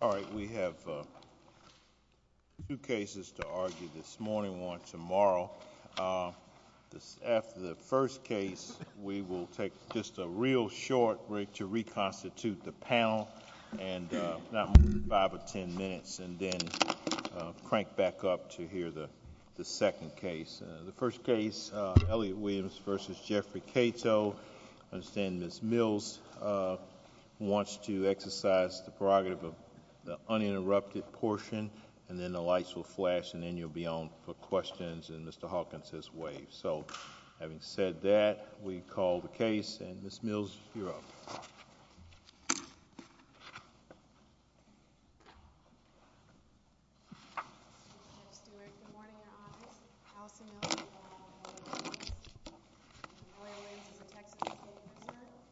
All right, we have two cases to argue this morning and one tomorrow. After the first case, we will take just a real short break to reconstitute the panel and not more than five or ten minutes and then crank back up to hear the second case. The first case, Elliott Williams v. Jeffrey Catoe, I understand Ms. Mills wants to exercise the prerogative of the uninterrupted portion and then the lights will flash and then you'll be on for questions and Mr. Hawkins has waived. So having said that, we call the case and Ms. Mills, you're up.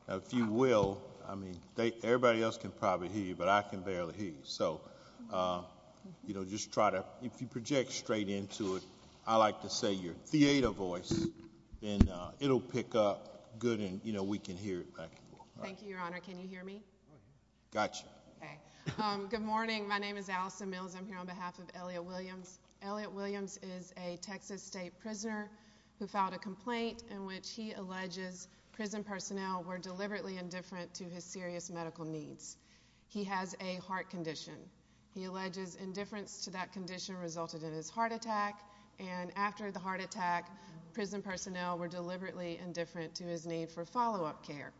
If you will, I mean, everybody else can probably hear you, but I can barely hear you. So, you know, just try to, if you project straight into it, I like to say your theater voice and it'll pick up good and, you know, we can hear it back and forth. Thank you, Your Honor. Can you hear me? Gotcha. Okay. Good morning. My name is Allison Mills. I'm here on behalf of Elliott Williams. Elliott Williams is a Texas state prisoner who filed a complaint in which he alleges prison personnel were deliberately indifferent to his serious medical needs. He has a heart condition. He alleges indifference to that condition resulted in his heart attack and after the heart attack, prison personnel were deliberately indifferent to his need for follow-up care.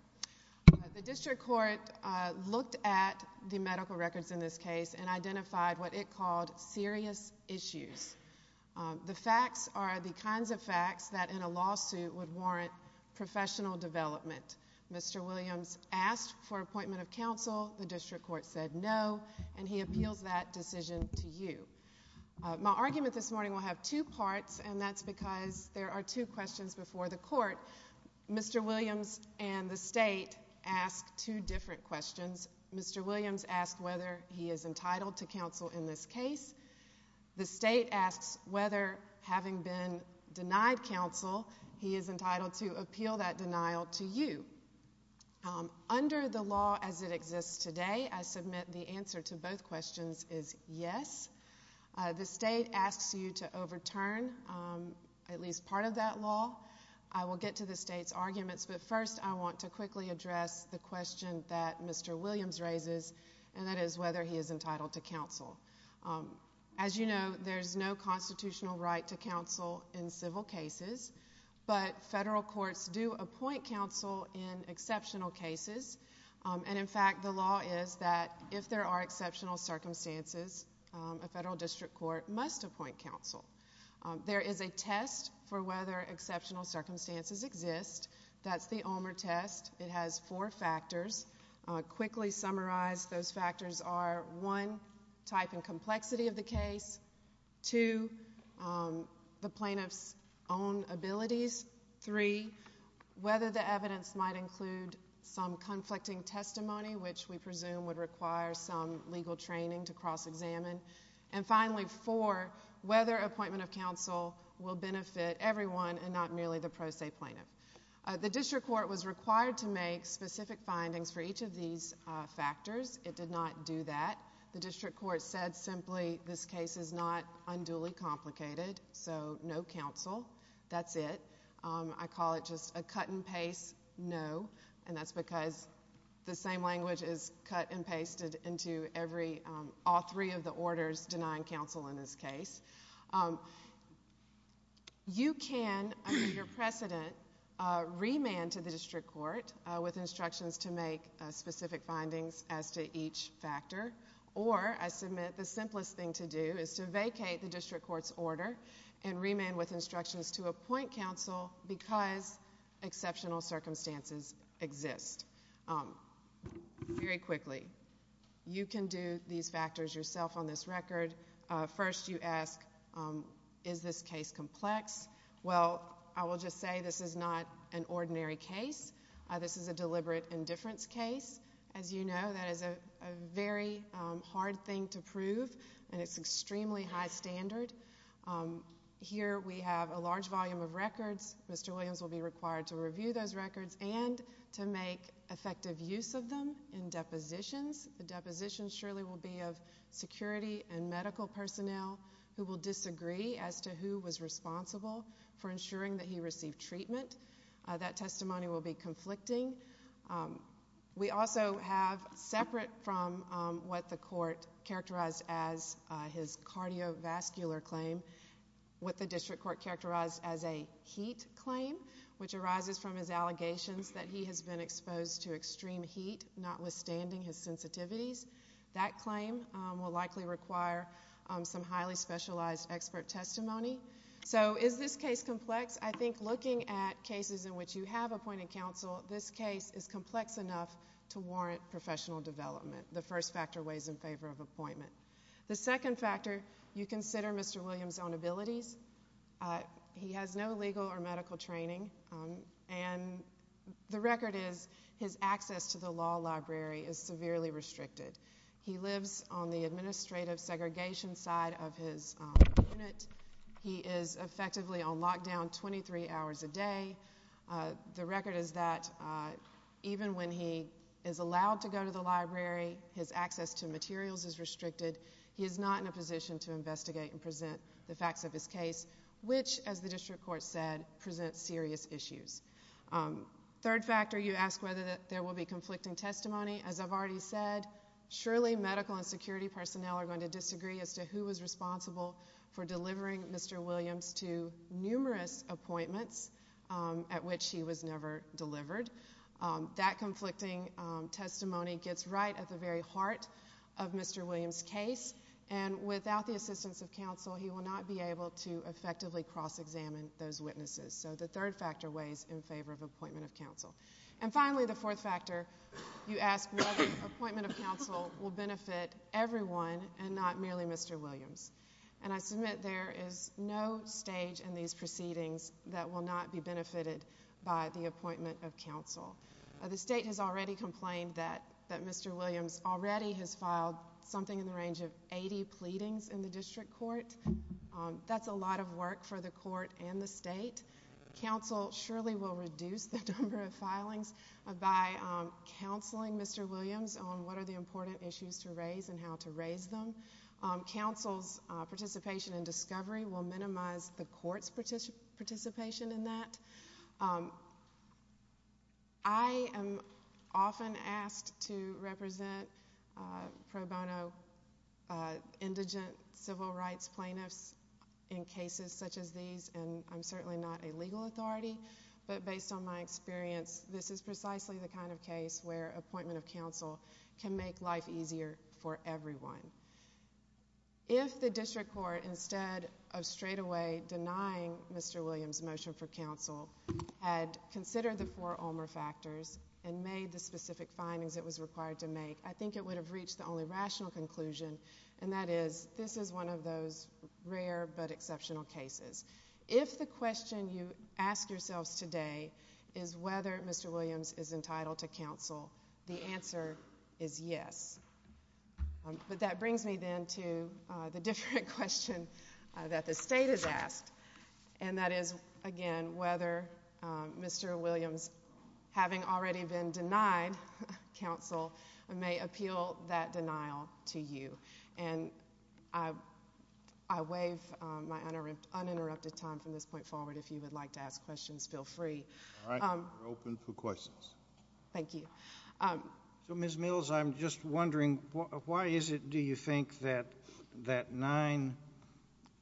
The district court looked at the medical records in this case and identified what it called serious issues. The facts are the kinds of facts that in a lawsuit would warrant professional development. Mr. Williams asked for appointment of counsel. The district court said no, and he appeals that decision to you. My argument this morning will have two parts and that's because there are two questions before the court. Mr. Williams and the state ask two different questions. Mr. Williams asked whether he is entitled to counsel in this case. The state asks whether having been denied counsel, he is entitled to appeal that denial to you. Under the law as it exists today, I submit the answer to both questions is yes. The state asks you to overturn at least part of that law. I will get to the state's arguments, but first I want to quickly address the question that Mr. Williams raises and that is whether he is entitled to counsel. As you know, there's no constitutional right to counsel in civil cases, but federal courts do appoint counsel in exceptional cases, and in fact, the law is that if there are exceptional circumstances, a federal district court must appoint counsel. There is a test for whether exceptional circumstances exist. That's the Omer test. It has four factors. Quickly summarize, those factors are one, type and complexity of the case, two, the whether the evidence might include some conflicting testimony, which we presume would require some legal training to cross-examine, and finally, four, whether appointment of counsel will benefit everyone and not merely the pro se plaintiff. The district court was required to make specific findings for each of these factors. It did not do that. The district court said simply this case is not unduly complicated, so no counsel. That's it. I call it just a cut-and-paste no, and that's because the same language is cut-and-pasted into all three of the orders denying counsel in this case. You can, under your precedent, remand to the district court with instructions to make specific findings as to each factor, or I submit the simplest thing to do is to vacate the district court's order and remand with instructions to appoint counsel because exceptional circumstances exist. Very quickly, you can do these factors yourself on this record. First, you ask, is this case complex? Well, I will just say this is not an ordinary case. This is a deliberate indifference case. As you know, that is a very hard thing to prove, and it's extremely high standard. Here we have a large volume of records. Mr. Williams will be required to review those records and to make effective use of them in depositions. The depositions surely will be of security and medical personnel who will disagree as to who was responsible for ensuring that he received treatment. That testimony will be conflicting. We also have, separate from what the court characterized as his cardiovascular claim, what the district court characterized as a heat claim, which arises from his allegations that he has been exposed to extreme heat, notwithstanding his sensitivities. That claim will likely require some highly specialized expert testimony. So is this case complex? I think looking at cases in which you have appointed counsel, this case is complex enough to warrant professional development. The first factor weighs in favor of appointment. The second factor, you consider Mr. Williams' own abilities. He has no legal or medical training, and the record is his access to the law library is severely restricted. He lives on the administrative segregation side of his unit. He is effectively on lockdown 23 hours a day. The record is that even when he is allowed to go to the library, his access to materials is restricted. He is not in a position to investigate and present the facts of his case, which, as the district court said, presents serious issues. Third factor, you ask whether there will be conflicting testimony. As I've already said, surely medical and security personnel are going to disagree as to who was responsible for delivering Mr. Williams to numerous appointments at which he was never delivered. That conflicting testimony gets right at the very heart of Mr. Williams' case, and without the assistance of counsel, he will not be able to effectively cross-examine those witnesses. So the third factor weighs in favor of appointment of counsel. And finally, the fourth factor, you ask whether appointment of counsel will benefit everyone and not merely Mr. Williams. And I submit there is no stage in these proceedings that will not be benefited by the appointment of counsel. The state has already complained that Mr. Williams already has filed something in the range of 80 pleadings in the district court. That's a lot of work for the court and the state. Counsel surely will reduce the number of filings by counseling Mr. Williams on what are the important issues to raise and how to raise them. Counsel's participation in discovery will minimize the court's participation in that. I am often asked to represent pro bono indigent civil rights plaintiffs in cases such as these, and I'm certainly not a legal authority, but based on my experience, this is precisely the kind of case where appointment of counsel can make life easier for everyone. If the district court, instead of straightaway denying Mr. Williams' motion for counsel, had considered the four OMRA factors and made the specific findings it was required to make, I think it would have reached the only rational conclusion, and that is this is one of those rare but exceptional cases. If the question you ask yourselves today is whether Mr. Williams is entitled to counsel, the answer is yes. But that brings me then to the different question that the state has asked, and that is, again, whether Mr. Williams, having already been denied counsel, may appeal that denial to you. And I waive my uninterrupted time from this point forward. If you would like to ask questions, feel free. All right. We're open for questions. Thank you. So, Ms. Mills, I'm just wondering, why is it, do you think, that nine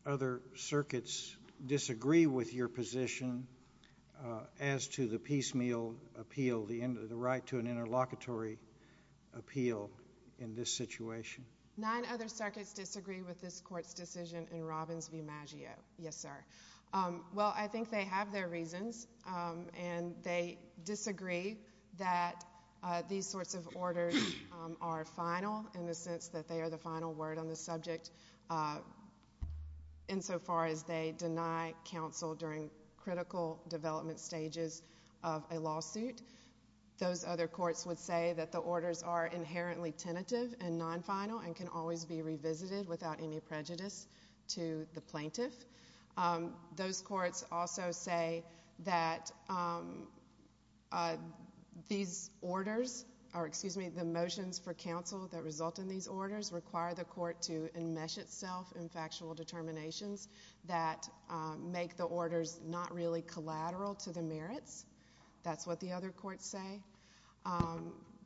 other circuits disagree with your position as to the piecemeal appeal, the right to an interlocutory appeal in this situation? Nine other circuits disagree with this court's decision in Robbins v. Maggio. Yes, sir. Well, I think they have their reasons, and they disagree that these sorts of orders are final in the sense that they are the final word on the subject insofar as they deny counsel during critical development stages of a lawsuit. Those other courts would say that the orders are inherently tentative and non-final and can always be revisited without any prejudice to the plaintiff. Those courts also say that these orders... or, excuse me, the motions for counsel that result in these orders require the court to enmesh itself in factual determinations that make the orders not really collateral to the merits. That's what the other courts say.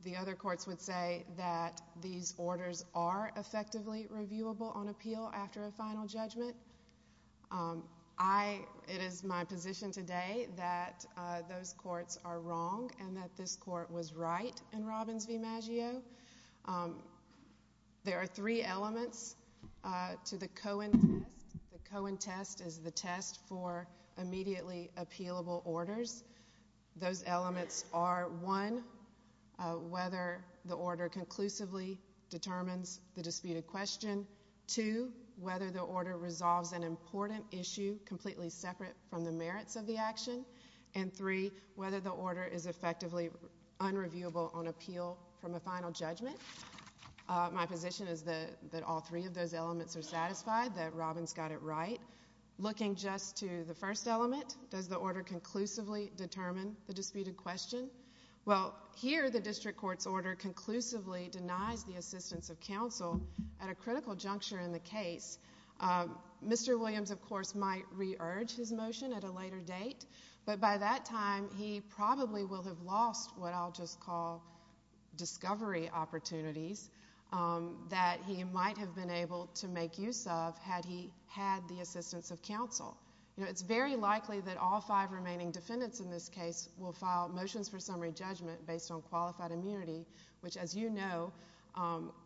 The other courts would say that these orders are effectively reviewable on appeal after a final judgment. It is my position today that those courts are wrong and that this court was right in Robbins v. Maggio. There are three elements to the Cohen test. The Cohen test is the test for immediately appealable orders. Those elements are, one, whether the order conclusively determines the disputed question. Two, whether the order resolves an important issue completely separate from the merits of the action. And three, whether the order is effectively unreviewable on appeal from a final judgment. My position is that all three of those elements are satisfied, that Robbins got it right. Looking just to the first element, does the order conclusively determine the disputed question? Well, here the district court's order conclusively denies the assistance of counsel at a critical juncture in the case. Mr. Williams, of course, might re-urge his motion at a later date, but by that time he probably will have lost what I'll just call discovery opportunities that he might have been able to make use of had he had the assistance of counsel. It's very likely that all five remaining defendants in this case will file motions for summary judgment based on qualified immunity, which, as you know,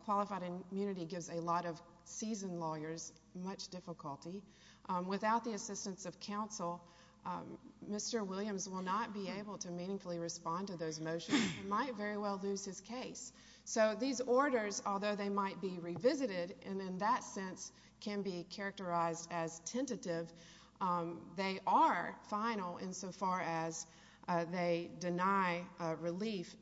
qualified immunity gives a lot of seasoned lawyers much difficulty. Without the assistance of counsel, Mr. Williams will not be able to meaningfully respond to those motions and might very well lose his case. So these orders, although they might be revisited and in that sense can be characterized as tentative, they are final insofar as they deny relief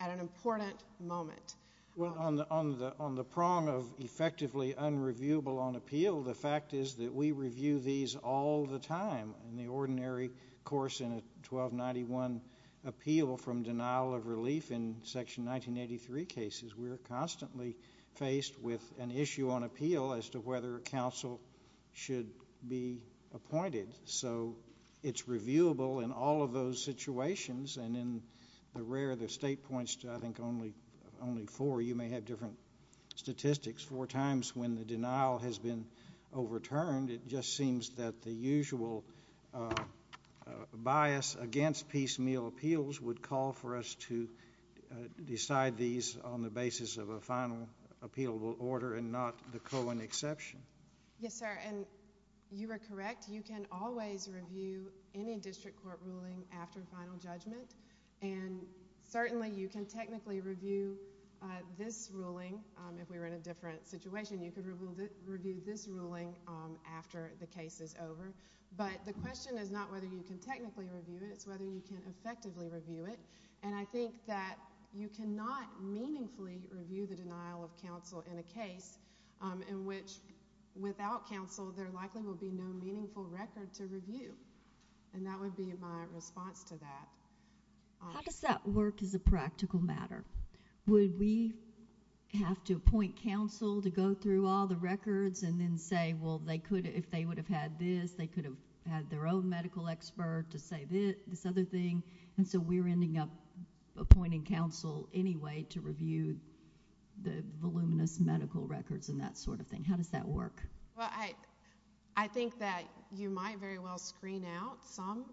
at an important moment. Well, on the prong of effectively unreviewable on appeal, the fact is that we review these all the time in the ordinary course in a 1291 appeal from denial of relief in Section 1983 cases. We're constantly faced with an issue on appeal as to whether counsel should be appointed. So it's reviewable in all of those situations and in the rare that State points to, I think, only four. You may have different statistics. Four times when the denial has been overturned, it just seems that the usual bias against piecemeal appeals would call for us to decide these on the basis of a final appealable order and not the colon exception. Yes, sir, and you are correct. You can always review any district court ruling after final judgment. And certainly you can technically review this ruling if we were in a different situation. You could review this ruling after the case is over. But the question is not whether you can technically review it. It's whether you can effectively review it. And I think that you cannot meaningfully review the denial of counsel in a case in which without counsel, there likely will be no meaningful record to review. And that would be my response to that. How does that work as a practical matter? Would we have to appoint counsel to go through all the records and then say, well, if they would have had this, they could have had their own medical expert to say this other thing, and so we're ending up appointing counsel anyway to review the voluminous medical records and that sort of thing. How does that work? Well, I think that you might very well screen out some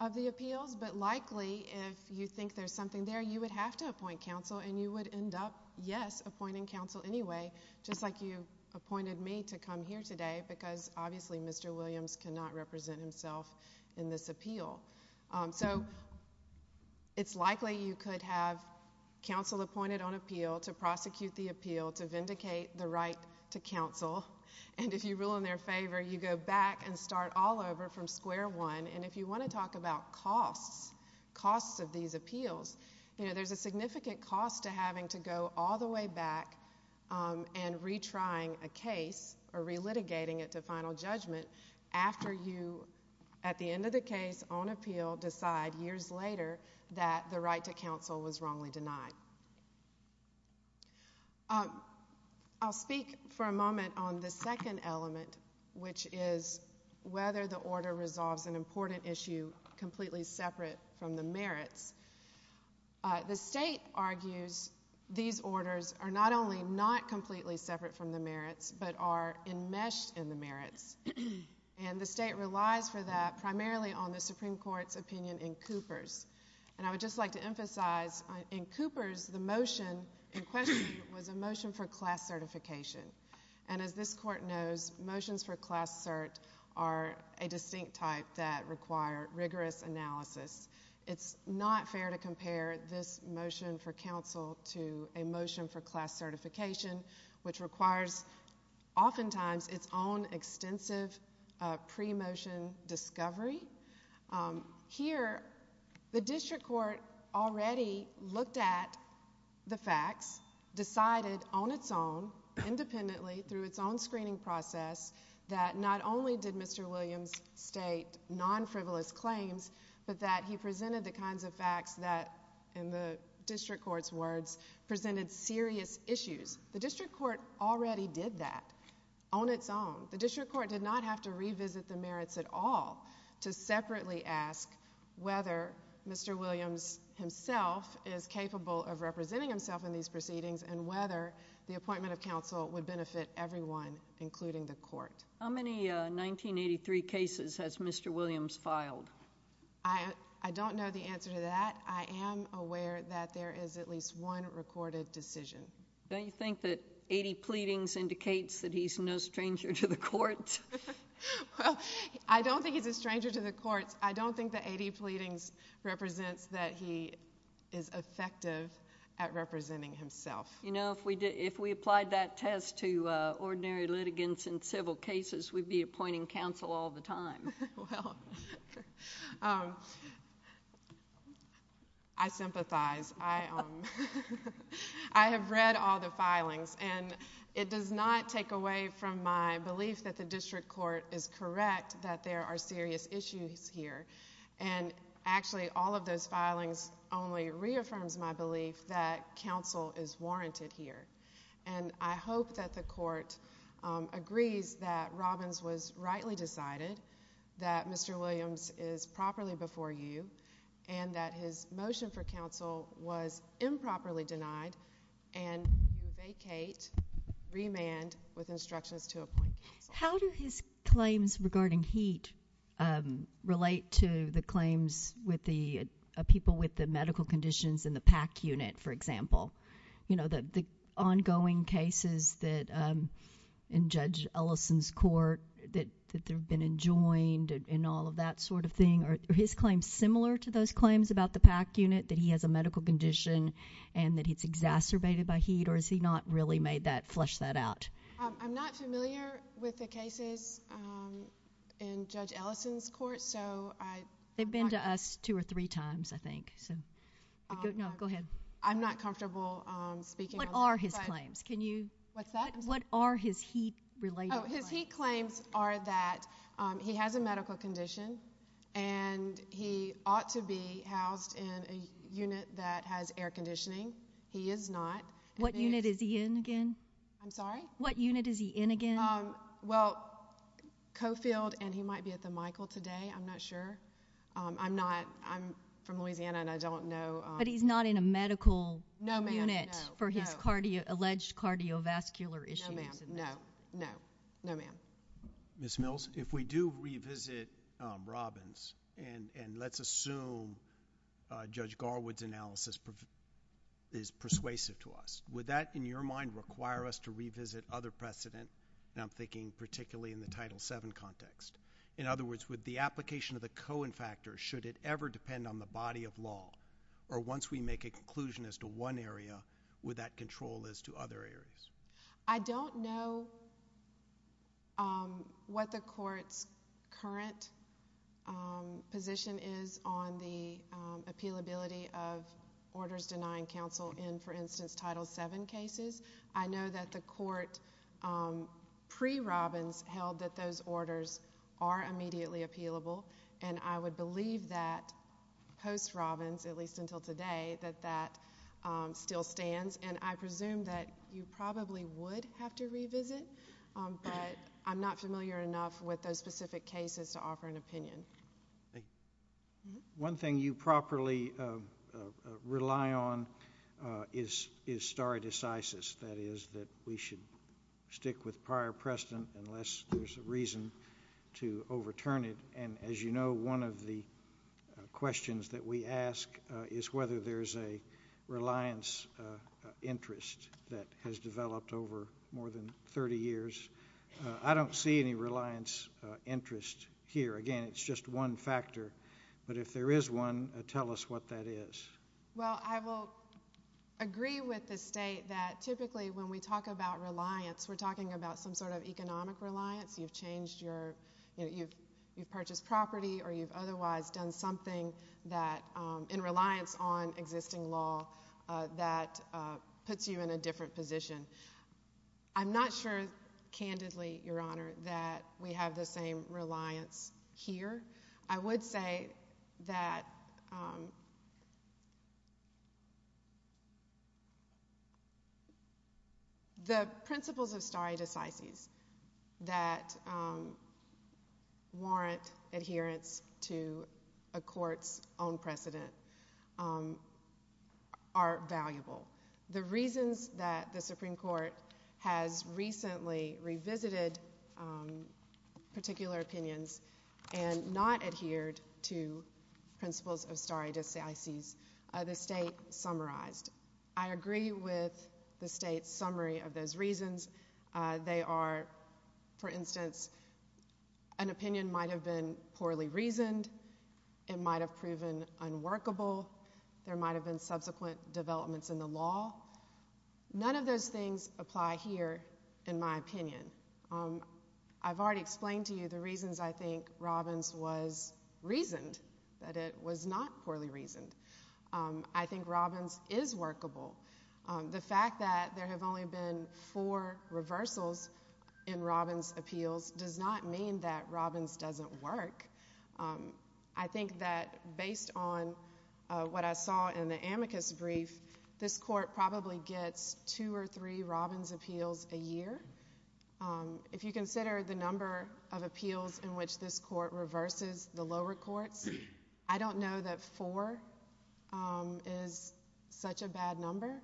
of the appeals, but likely if you think there's something there, you would have to appoint counsel, and you would end up, yes, appointing counsel anyway, just like you appointed me to come here today, because obviously Mr. Williams cannot represent himself in this appeal. So it's likely you could have counsel appointed on appeal to prosecute the appeal, to vindicate the right to counsel, and if you rule in their favor, you go back and start all over from square one, and if you want to talk about costs, costs of these appeals, you know, there's a significant cost to having to go all the way back and retrying a case or relitigating it to final judgment after you, at the end of the case, on appeal decide years later that the right to counsel was wrongly denied. I'll speak for a moment on the second element, which is whether the order resolves an important issue completely separate from the merits. The state argues these orders are not only not completely separate from the merits, but are enmeshed in the merits, and the state relies for that primarily on the Supreme Court's opinion in Cooper's. And I would just like to emphasize, in Cooper's, the motion in question was a motion for class certification, and as this court knows, motions for class cert are a distinct type that require rigorous analysis. It's not fair to compare this motion for counsel to a motion for class certification, which requires oftentimes its own extensive pre-motion discovery. Here, the district court already looked at the facts, decided on its own, independently, through its own screening process, that not only did Mr. Williams state non-frivolous claims, but that he presented the kinds of facts that, in the district court's words, presented serious issues. The district court already did that. On its own, the district court did not have to revisit the merits at all to separately ask whether Mr. Williams himself is capable of representing himself in these proceedings and whether the appointment of counsel would benefit everyone, including the court. How many 1983 cases has Mr. Williams filed? I don't know the answer to that. I am aware that there is at least one recorded decision. Don't you think that 80 pleadings indicates that he's no stranger to the courts? Well, I don't think he's a stranger to the courts. I don't think that 80 pleadings represents that he is effective at representing himself. You know, if we applied that test to ordinary litigants in civil cases, we'd be appointing counsel all the time. Well... I sympathize. I have read all the filings, and it does not take away from my belief that the district court is correct that there are serious issues here. And actually, all of those filings only reaffirms my belief that counsel is warranted here. And I hope that the court agrees that Robbins was rightly decided, that Mr. Williams is properly before you, and that his motion for counsel was improperly denied, and you vacate, remand, with instructions to appoint counsel. How do his claims regarding Heat relate to the claims with the people with the medical conditions in the PAC unit, for example? You know, the ongoing cases that... in Judge Ellison's court, that they've been enjoined, and all of that sort of thing. Are his claims similar to those claims about the PAC unit, that he has a medical condition and that he's exacerbated by Heat, or has he not really made that... flushed that out? I'm not familiar with the cases in Judge Ellison's court, so I... They've been to us two or three times, I think, so... No, go ahead. I'm not comfortable speaking... What are his claims? Can you... What's that? What are his Heat-related claims? Oh, his Heat claims are that he has a medical condition, and he ought to be housed in a unit that has air conditioning. He is not. What unit is he in again? I'm sorry? What unit is he in again? Um, well, Coffield, and he might be at the Michael today. I'm not sure. I'm not... I'm from Louisiana, and I don't know... But he's not in a medical unit... No, ma'am, no. ...for his alleged cardiovascular issues? No, ma'am. No. No. No, ma'am. Ms. Mills, if we do revisit Robbins, and let's assume Judge Garwood's analysis is persuasive to us, would that, in your mind, require us to revisit other precedent? And I'm thinking particularly in the Title VII context. In other words, would the application of the Cohen factor, should it ever depend on the body of law, or once we make a conclusion as to one area, would that control as to other areas? I don't know... Um, what the court's current, um, position is on the, um, appealability of orders denying counsel in, for instance, Title VII cases. I know that the court, um, pre-Robbins, held that those orders are immediately appealable, and I would believe that post-Robbins, at least until today, that that, um, still stands. And I presume that you probably would have to revisit, um, but I'm not familiar enough with those specific cases to offer an opinion. One thing you properly, um, rely on is stare decisis, that is, that we should stick with prior precedent unless there's a reason to overturn it. And as you know, one of the questions that we ask is whether there's a reliance interest that has developed over more than 30 years. Uh, I don't see any reliance, uh, interest here. Again, it's just one factor, but if there is one, tell us what that is. Well, I will agree with the state that typically when we talk about reliance, we're talking about some sort of economic reliance. You've changed your, you know, you've purchased property or you've otherwise done something that, um, in reliance on that, uh, puts you in a different position. I'm not sure candidly, Your Honor, that we have the same reliance here. I would say that, um, the principles of stare decisis that, um, warrant adherence to a court's own precedent, um, are valuable. The reasons that the Supreme Court has recently revisited, um, particular opinions and not adhered to principles of stare decisis are the state summarized. I agree with the state's summary of those reasons. Uh, they are, for instance, an opinion might have been poorly reasoned, it might have proven unworkable, there might have been subsequent developments in the law. None of those things apply here, in my opinion. Um, I've already explained to you the reasons I think Robbins was reasoned, that it was not poorly reasoned. Um, I think Robbins is workable. Um, the fact that there have only been four reversals in Robbins appeals does not mean that Robbins doesn't work. Um, I think that based on what I saw in the amicus brief, this court probably gets two or three Robbins appeals a year. Um, if you consider the number of appeals in which this court reverses the lower courts, I don't know that four, um, is such a bad number.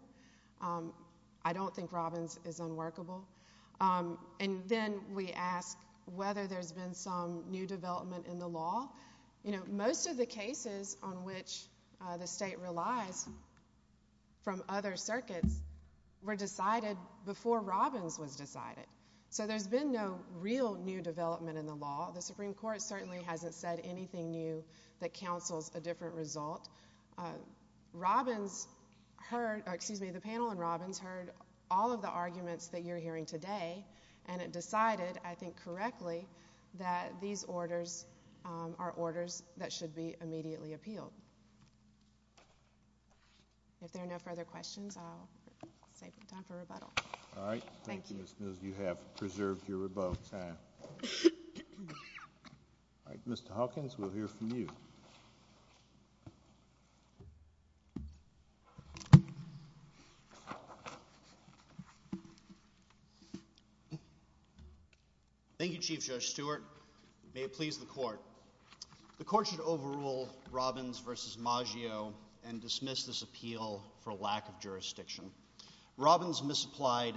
Um, I don't think Robbins is unworkable. Um, and then we ask whether there's been some new development in the law. You know, most of the cases on which the state relies from other circuits were decided before Robbins was decided. So there's been no real new development in the law. The Supreme Court certainly hasn't said anything new that counsels a different result. Robbins heard, excuse me, the panel in Robbins heard all of the arguments that you're hearing today, and it decided, I think correctly, that these orders are orders that should be immediately appealed. If there are no further questions, I'll save the time for rebuttal. Thank you, Ms. Mills, you have preserved your rebuttal time. Mr. Hawkins, we'll hear from you. Thank you, Chief Judge Stewart. May it please the court. The court should overrule Robbins v. Maggio and dismiss this appeal for lack of jurisdiction. Robbins misapplied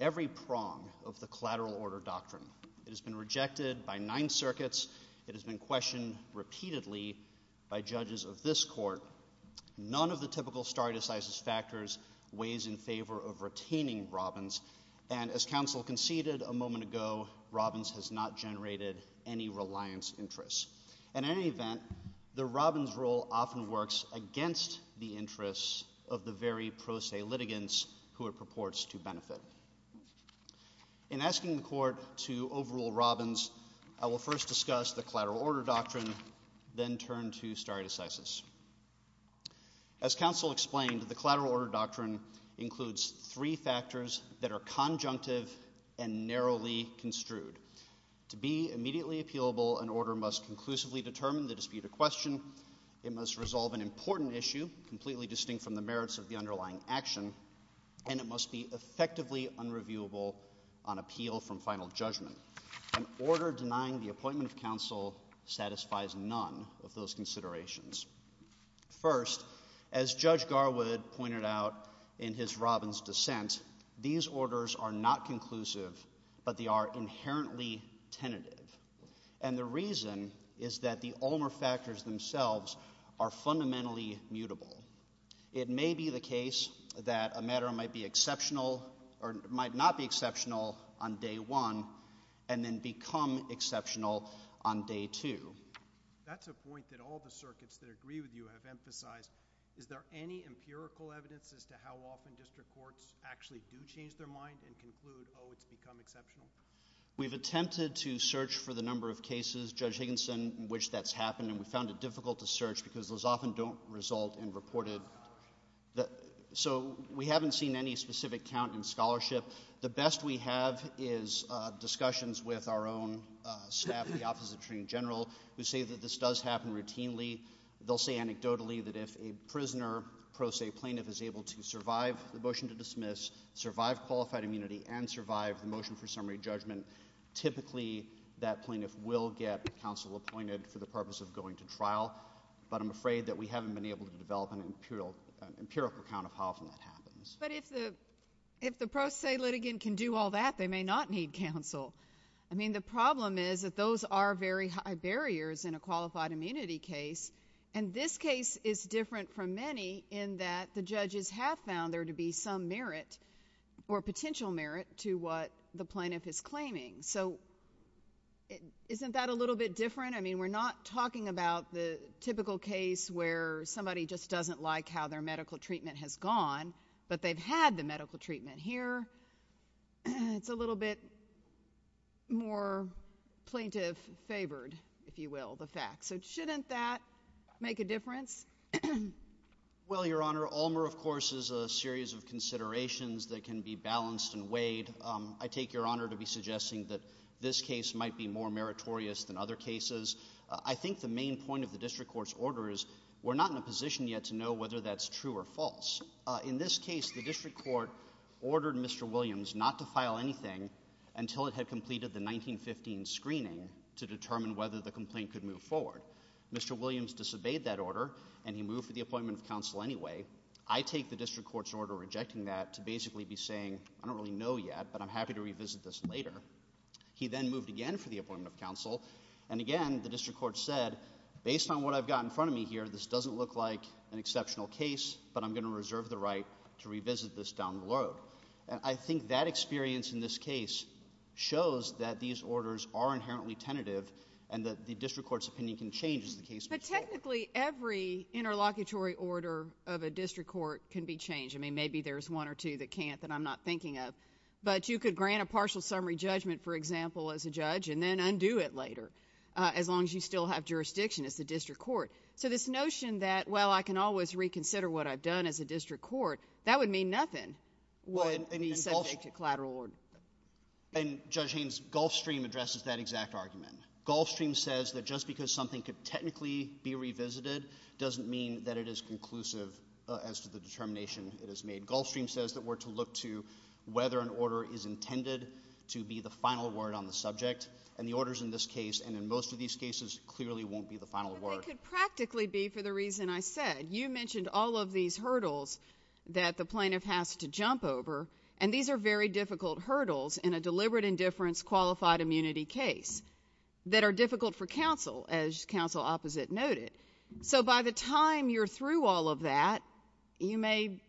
every prong of the collateral order doctrine. It has been rejected by nine circuits, it has been questioned repeatedly by judges of this court. None of the typical stare decisis factors weighs in favor of retaining Robbins, and as counsel conceded a moment ago, Robbins has not generated any reliance interest. In any event, the Robbins rule often works against the interests of the very pro se litigants who it purports to benefit. In asking the court to overrule Robbins, I will first discuss the collateral order doctrine, then turn to stare decisis. As counsel explained, the collateral order doctrine includes three factors that are conjunctive and narrowly construed. To be immediately appealable, an order must conclusively determine the dispute or question, it must resolve an important issue, completely distinct from the merits of the underlying action, and it must be effectively unreviewable on appeal from final judgment. An order denying the appointment of counsel satisfies none of those considerations. First, as Judge Garwood pointed out in his Robbins dissent, these orders are not conclusive, but they are inherently tentative, and the reason is that the Ulmer factors themselves are fundamentally mutable. It may be the case that a matter might not be exceptional on day one and then become exceptional on day two. That's a point that all the circuits that agree with you have emphasized. Is there any empirical evidence as to how often district courts actually do change their mind and conclude oh, it's become exceptional? We've attempted to search for the number of cases, Judge Higginson, in which that's happened, and we found it difficult to search because those often don't result in reported... so we haven't seen any specific count in scholarship. The best we have is discussions with our own staff, the Office of the Attorney General, who say that this does happen routinely. They'll say anecdotally that if a prisoner, pro se plaintiff, is able to survive the motion to dismiss, survive qualified immunity, and survive the motion for summary judgment, typically that plaintiff will get counsel appointed for the purpose of going to trial, but I'm afraid that we haven't been able to develop an empirical account of how often that happens. But if the pro se litigant can do all that, they may not need counsel. I mean, the problem is that those are very high barriers in a qualified immunity case, and this case is different from many in that the judges have found there to be some merit or potential merit to what the plaintiff is claiming. So isn't that a little bit different? I mean, we're not talking about the typical case where somebody just doesn't like how their medical treatment has gone, but they've had the medical treatment here. It's a little bit more plaintiff favored, if you will, the fact. So shouldn't that make a difference? Well, Your Honor, Allmer, of course, is a series of considerations that can be balanced and weighed. I take Your Honor to be suggesting that this case might be more meritorious than other cases. I think the main point of the district court's order is we're not in a position yet to know whether that's true or false. In this case, the district court ordered Mr. Williams not to file anything until it had completed the process to determine whether the complaint could move forward. Mr. Williams disobeyed that order, and he moved for the appointment of counsel anyway. I take the district court's order rejecting that to basically be saying, I don't really know yet, but I'm happy to revisit this later. He then moved again for the appointment of counsel, and again, the district court said, based on what I've got in front of me here, this doesn't look like an exceptional case, but I'm going to reserve the right to revisit this down the road. And I think that experience in this case shows that these orders are inherently tentative, and that the district court's opinion can change as the case moves forward. But technically, every interlocutory order of a district court can be changed. I mean, maybe there's one or two that can't that I'm not thinking of, but you could grant a partial summary judgment, for example, as a judge, and then undo it later, as long as you still have jurisdiction as the district court. So this notion that, well, I can always reconsider what I've done as a district court, that would mean nothing would be subject to collateral order. And Judge Haynes, Gulfstream addresses that exact argument. Gulfstream says that just because something could technically be revisited doesn't mean that it is conclusive as to the determination it has made. Gulfstream says that we're to look to whether an order is intended to be the final word on the subject, and the orders in this case, and in most of these cases, clearly won't be the final word. But they could practically be, for the reason I said. You mentioned all of these hurdles that the plaintiff has to jump over, and these are very difficult hurdles in a deliberate indifference qualified immunity case that are difficult for counsel, as counsel opposite noted. So by the time you're through all of that, you may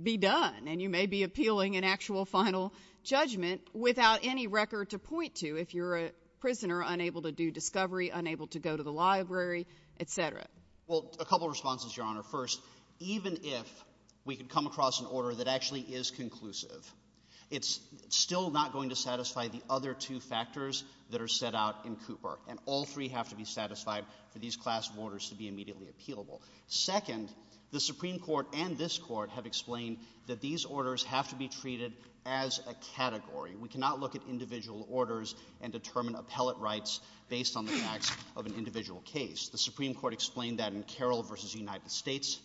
be done, and you may be appealing an actual final judgment without any record to point to, if you're a prisoner unable to do discovery, unable to go to the library, etc. Well, a couple of responses, Your Honor. First, even if we could come across an order that actually is conclusive, it's still not going to satisfy the other two factors that are set out in Cooper, and all three have to be satisfied for these class of orders to be immediately appealable. Second, the Supreme Court and this Court have explained that these orders have to be treated as a category. We cannot look at individual orders and determine appellate rights based on the facts of an individual case. The Supreme Court explained that in Carroll v. United States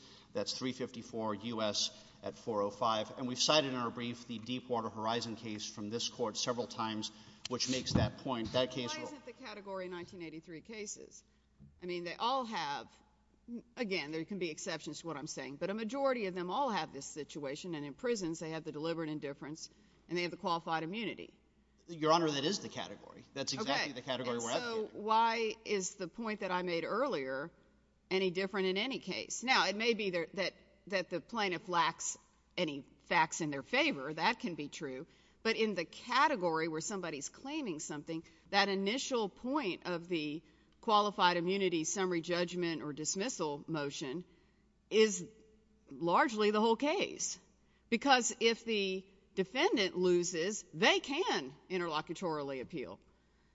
at 405, and we've cited in our brief the Deepwater Horizon case from this Court several times, which makes that point. Why isn't the category 1983 cases? I mean, they all have again, there can be exceptions to what I'm saying, but a majority of them all have this situation, and in prisons they have the deliberate indifference and they have the qualified immunity. Your Honor, that is the category. That's exactly the category we're at here. Why is the point that I made earlier any different in any case? Now, it may be that the plaintiff lacks any facts in their favor, that can be true, but in the category where somebody's claiming something, that initial point of the qualified immunity summary judgment or dismissal motion is largely the whole case because if the defendant loses, they can interlocutorily appeal.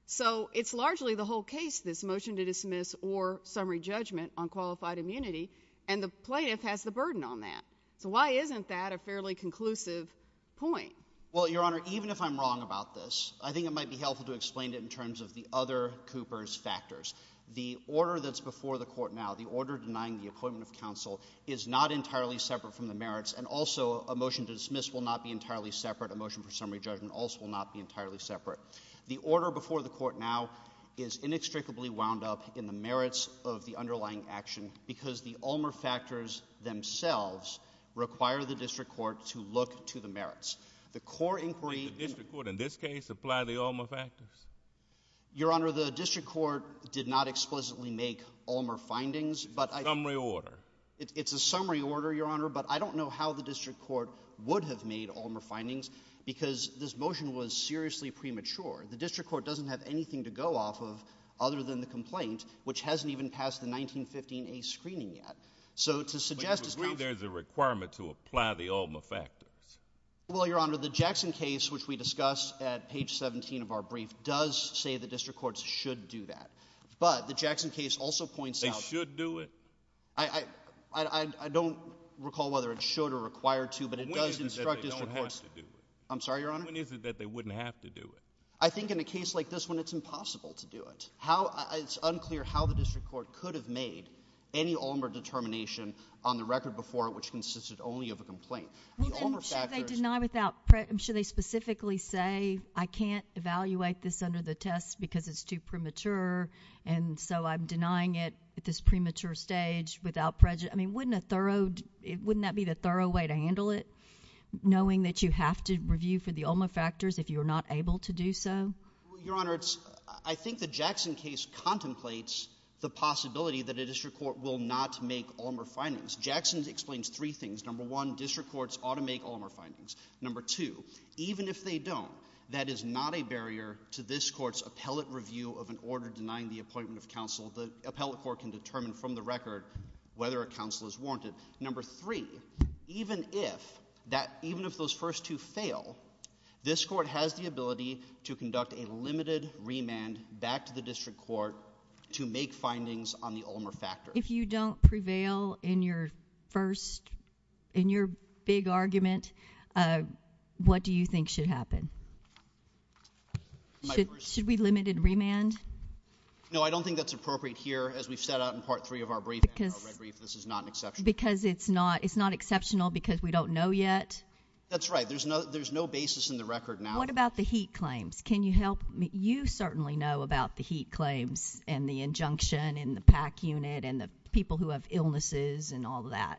So, it's largely the whole case this motion to dismiss or summary judgment on qualified immunity and the plaintiff has the burden on that. So, why isn't that a fairly conclusive point? Well, Your Honor, even if I'm wrong about this, I think it might be helpful to explain it in terms of the other Cooper's factors. The order that's before the Court now, the order denying the appointment of counsel is not entirely separate from the merits and also a motion to dismiss will not be entirely separate, a motion for summary judgment also will not be entirely separate. The order before the Court now is inextricably wound up in the merits of the underlying action because the Ulmer factors themselves require the District Court to look to the merits. The core inquiry The District Court in this case apply the Ulmer factors? Your Honor, the District Court did not explicitly make Ulmer findings, but Summary order? It's a summary order, Your Honor, but I don't know how the District Court would have made Ulmer findings because this motion was seriously premature. The District Court doesn't have anything to go off of other than the complaint, which hasn't even passed the 1915A screening yet. So to suggest... But you agree there's a requirement to apply the Ulmer factors? Well, Your Honor, the Jackson case, which we discussed at page 17 of our brief, does say the District Courts should do that, but the Jackson case also points out... They should do it? recall whether it should or required to, but it does instruct District Courts... When is it that they don't have to do it? I'm sorry, Your Honor? When is it that they wouldn't have to do it? I think in a case like this one, it's impossible to do it. It's unclear how the District Court could have made any Ulmer determination on the record before it, which consisted only of a complaint. Should they deny without... Should they specifically say I can't evaluate this under the test because it's too premature and so I'm denying it at this premature stage without prejudice? I mean, wouldn't a thorough... Wouldn't that be the thorough way to handle it? Knowing that you have to review for the Ulmer factors if you're not able to do so? Your Honor, I think the Jackson case contemplates the possibility that a District Court will not make Ulmer findings. Jackson explains three things. Number one, District Courts ought to make Ulmer findings. Number two, even if they don't, that is not a barrier to this Court's appellate review of an order denying the appointment of counsel. The appellate court can determine from the record whether a counsel is warranted. Number three, even if that... Even if those first two fail, this Court has the ability to conduct a limited remand back to the District Court to make findings on the Ulmer factors. If you don't prevail in your first... in your big argument, what do you think should happen? Should we limited remand? No, I don't think that's appropriate here as we've set out in part three of our brief. This is not an exception. Because it's not exceptional because we don't know yet? That's right. There's no basis in the record now. What about the HEAT claims? Can you help... You certainly know about the HEAT claims and the injunction in the PAC unit and the people who have illnesses and all that.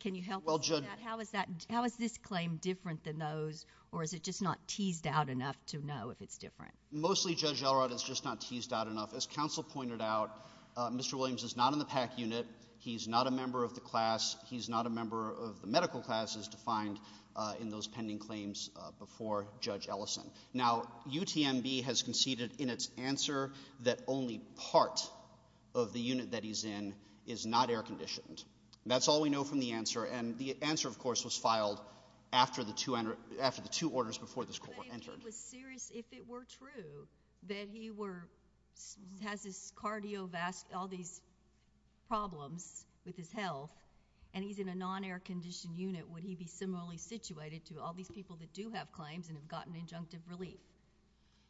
Can you help us with that? How is this claim different than those or is it just not teased out enough to know if it's different? Mostly, Judge Elrod, it's just not teased out enough. As counsel pointed out, Mr. Williams is not in the PAC unit. He's not a member of the class. He's not a member of the medical classes defined in those pending claims before Judge Ellison. Now, UTMB has conceded in its answer that only part of the unit that he's in is not air-conditioned. That's all we know from the answer. And the answer, of course, was filed after the two orders before this court were entered. But he was serious, if it were true, that he were... has all these problems with his health and he's in a non-air-conditioned unit, would he be similarly situated to all these people that do have claims and have gotten injunctive relief?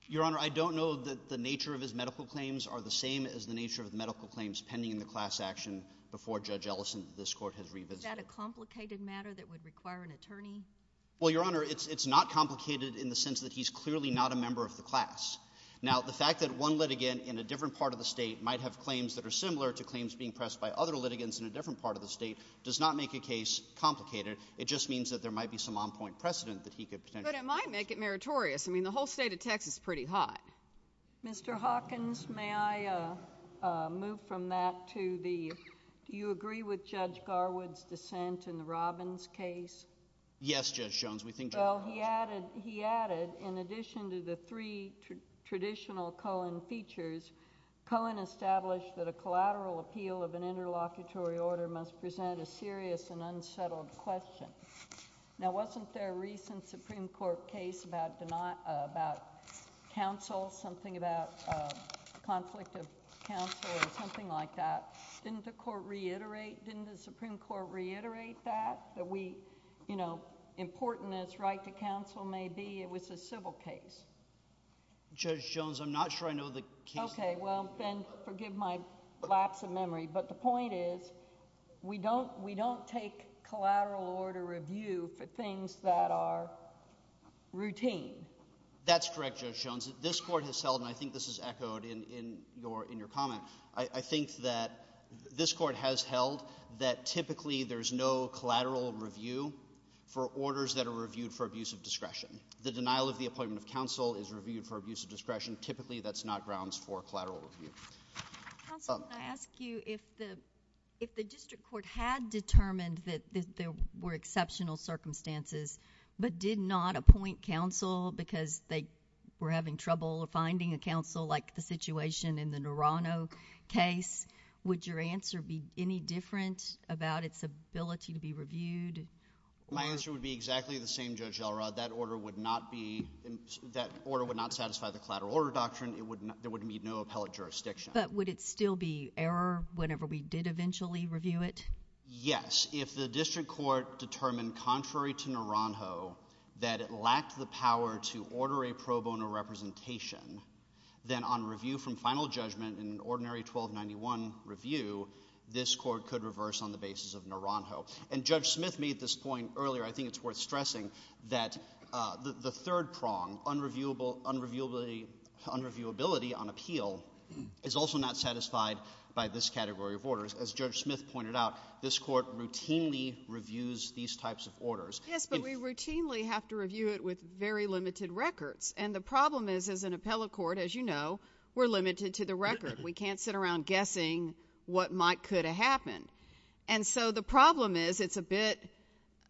Your Honor, I don't know that the nature of his medical claims are the same as the nature of the medical claims pending in the class action before Judge Ellison that this court has revisited. Is that a complicated matter that would require an attorney? Well, Your Honor, it's not complicated in the sense that he's clearly not a member of the class. Now, the fact that one litigant in a different part of the state might have claims that are similar to claims being pressed by other litigants in a different part of the state does not make a case complicated. It just means that there might be some on-point precedent that he could potentially... But it might make it meritorious. I mean, the whole state of Texas is pretty high. Mr. Hawkins, may I move from that to the... Do you agree with Judge Garwood's dissent in the Robbins case? Yes, Judge Jones, we think... Well, he added... he added, in addition to the three traditional Cohen features, Cohen established that a collateral appeal of an interlocutory order must present a serious and unsettled question. Now, wasn't there a recent Supreme Court case about denial... about counsel, something about conflict of counsel or something like that? Didn't the court reiterate... Didn't the Supreme Court reiterate that? That we, you know, important as right to counsel may be, it was a civil case. Judge Jones, I'm not sure I know the case... Okay, well, then forgive my lapse of memory, but the point is, we don't take collateral order review for things that are routine. That's correct, Judge Jones. This court has held, and I think this is echoed in your comment, I think that this court has held that typically there's no collateral review for orders that are reviewed for abuse of discretion. The denial of the appointment of counsel is reviewed for abuse of discretion. Typically, that's not grounds for collateral review. Counsel, can I ask you if the district court had determined that there were exceptional circumstances, but did not appoint counsel because they were having trouble finding a counsel, like the situation in the Norano case, would your answer be any different about its ability to be reviewed? My answer would be exactly the same, Judge Elrod. That order would not satisfy the collateral order doctrine. There would be no appellate jurisdiction. But would it still be error whenever we did eventually review it? Yes. If the district court determined, contrary to Noronho, that it lacked the power to order a pro bono representation, then on review from final judgment in an ordinary 1291 review, this court could reverse on the basis of Noronho. And Judge Smith made this point earlier. I think it's worth stressing that the third prong, unreviewability on appeal, is also not satisfied by this category of orders. As Judge Smith pointed out, this court routinely reviews these types of orders. Yes, but we routinely have to review it with very limited records. And the problem is as an appellate court, as you know, we're limited to the record. We can't sit around guessing what might could happen. And so the problem is it's a bit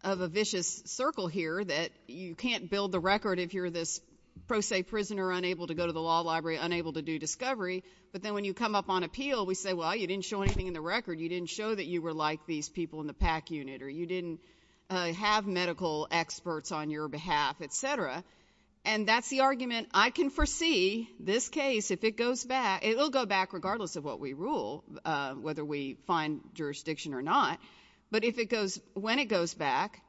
of a vicious circle here that you can't build the record if you're this pro se prisoner unable to go to the law library, unable to do discovery. But then when you come up on appeal, we say, well, you didn't show anything in the record. You didn't show that you were like these people in the PAC unit, or you didn't have medical experts on your behalf, etc. And that's the argument. I can foresee this case, if it goes back, it'll go back regardless of what we find jurisdiction or not. But if it goes, when it goes back,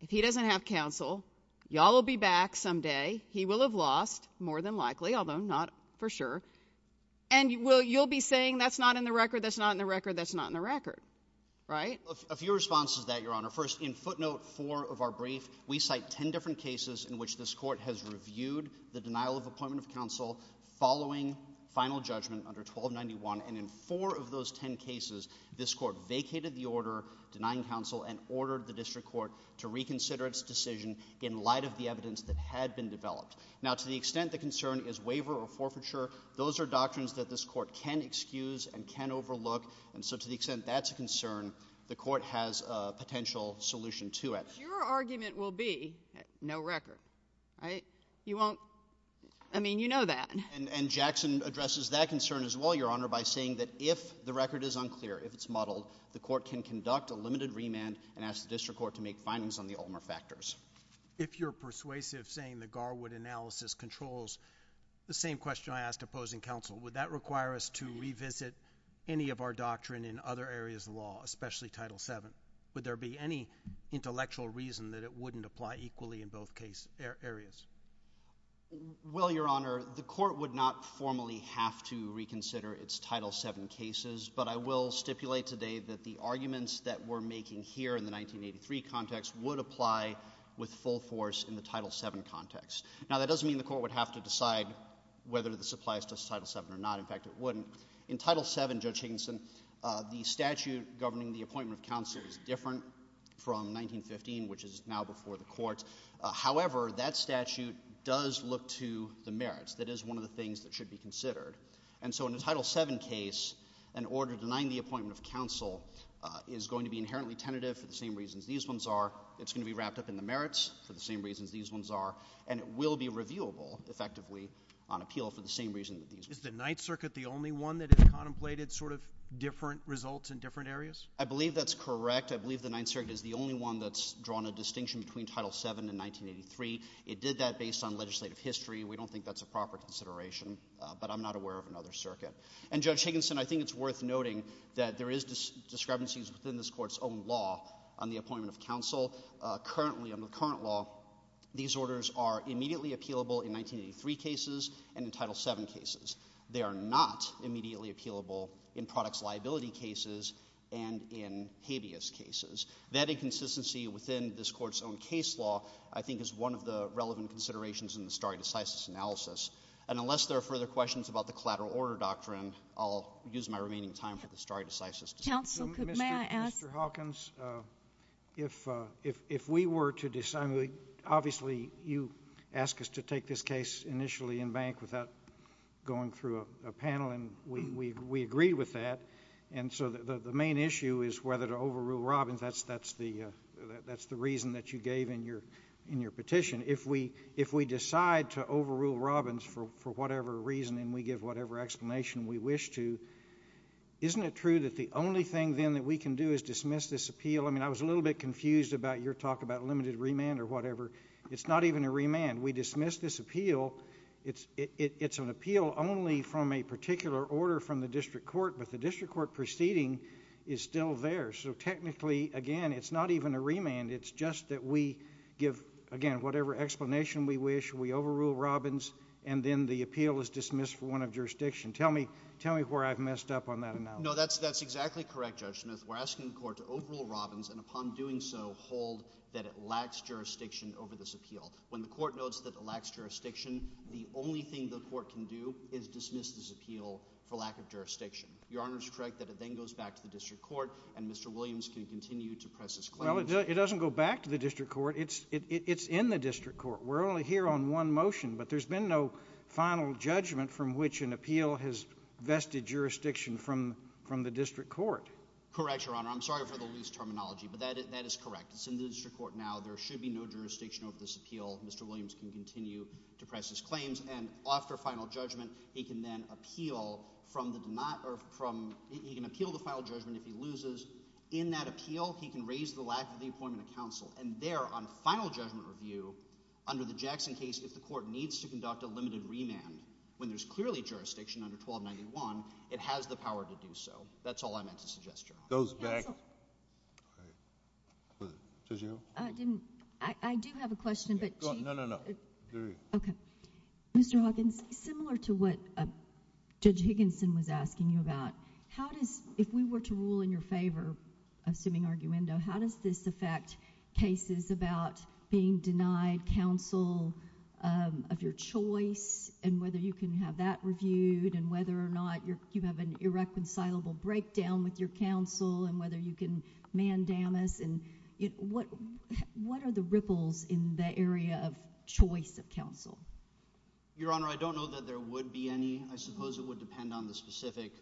if he doesn't have counsel, y'all will be back someday. He will have lost, more than likely, although not for sure. And you'll be saying that's not in the record, that's not in the record, that's not in the record. Right? A few responses to that, Your Honor. First, in footnote four of our brief, we cite ten different cases in which this court has reviewed the denial of appointment of counsel following final judgment under 1291. And in four of those ten cases, this court vacated the order denying counsel and ordered the district court to reconsider its decision in light of the evidence that had been developed. Now, to the extent the concern is waiver or forfeiture, those are doctrines that this court can excuse and can overlook. And so to the extent that's a concern, the court has a potential solution to it. Your argument will be, no record. Right? You won't... I mean, you know that. And Jackson addresses that concern as well, Your Honor, by saying that if the record is unclear, if it's muddled, the court can conduct a limited remand and ask the district court to make findings on the Ulmer factors. If you're persuasive saying the Garwood analysis controls the same question I asked opposing counsel, would that require us to revisit any of our doctrine in other areas of law, especially Title VII? Would there be any intellectual reason that it wouldn't apply equally in both areas? Well, Your Honor, the court would not formally have to reconsider its Title VII cases, but I will stipulate today that the arguments that we're making here in the 1983 context would apply with full force in the Title VII context. Now, that doesn't mean the court would have to decide whether this applies to Title VII or not. In fact, it wouldn't. In Title VII, Judge Higginson, the statute governing the appointment of counsel is different from 1915, which is now before the court. However, that statute does look to the merits. That is one of the things that should be considered. And so in a Title VII case, an order denying the appointment of counsel is going to be inherently tentative for the same reasons these ones are. It's going to be wrapped up in the merits for the same reasons these ones are, and it will be reviewable effectively on appeal for the same reason that these ones are. Is the Ninth Circuit the only one that has contemplated sort of different results in different areas? I believe that's correct. I believe the Ninth Circuit is the only one that's drawn a distinction between Title VII and 1983. It did that based on legislative history. We don't think that's a proper consideration, but I'm not aware of another circuit. And Judge Higginson, I think it's worth noting that there is discrepancies within this court's own law on the appointment of counsel. Currently, under the current law, these orders are immediately appealable in 1983 cases and in Title VII cases. They are not immediately appealable in products liability cases and in habeas cases. That inconsistency within this court's own case law, I think is one of the relevant considerations in the stare decisis analysis. And unless there are further questions about the collateral order doctrine, I'll use my remaining time for the stare decisis discussion. Mr. Hawkins, if we were to decide, obviously you ask us to take this case initially in bank without going through a panel, and we agree with that. And so the main issue is whether to overrule Robbins. That's the reason that you gave in your petition. If we decide to overrule Robbins for whatever reason, and we give whatever explanation we wish to, isn't it true that the only thing then that we can do is dismiss this appeal? I mean, I was a little bit confused about your talk about limited remand or whatever. It's not even a remand. We dismiss this appeal. It's an appeal only from a particular order from the Court of Appeals, and the rest of the petition is still there. So technically, again, it's not even a remand. It's just that we give, again, whatever explanation we wish. We overrule Robbins, and then the appeal is dismissed for want of jurisdiction. Tell me where I've messed up on that analysis. No, that's exactly correct, Judge Smith. We're asking the Court to overrule Robbins, and upon doing so, hold that it lacks jurisdiction over this appeal. When the Court notes that it lacks jurisdiction, the only thing the Court can do is dismiss this appeal for lack of jurisdiction. Your Honor's correct that it then goes back to the District Court, and Mr. Williams can continue to press his claims. Well, it doesn't go back to the District Court. It's in the District Court. We're only here on one motion, but there's been no final judgment from which an appeal has vested jurisdiction from the District Court. Correct, Your Honor. I'm sorry for the loose terminology, but that is correct. It's in the District Court now. There should be no jurisdiction over this appeal. Mr. Williams can continue to press his claims, and after final judgment, he can then appeal from the demand, or he can appeal the final judgment if he loses. In that appeal, he can raise the lack of the appointment of counsel, and there, on final judgment review, under the Jackson case, if the Court needs to conduct a limited remand, when there's clearly jurisdiction under 1291, it has the power to do so. That's all I meant to suggest, Your Honor. I do have a question, but No, no, no. Okay. Mr. Hawkins, similar to what Judge Higginson was asking you about, if we were to rule in your favor, assuming arguendo, how does this affect cases about being denied counsel of your choice, and whether you can have that reviewed, and whether or not you have an irreconcilable breakdown with your counsel, and whether you can mandamus, and what are the ripples in the area of choice of counsel? Your Honor, I don't know that there would be any. I suppose it would depend on the specific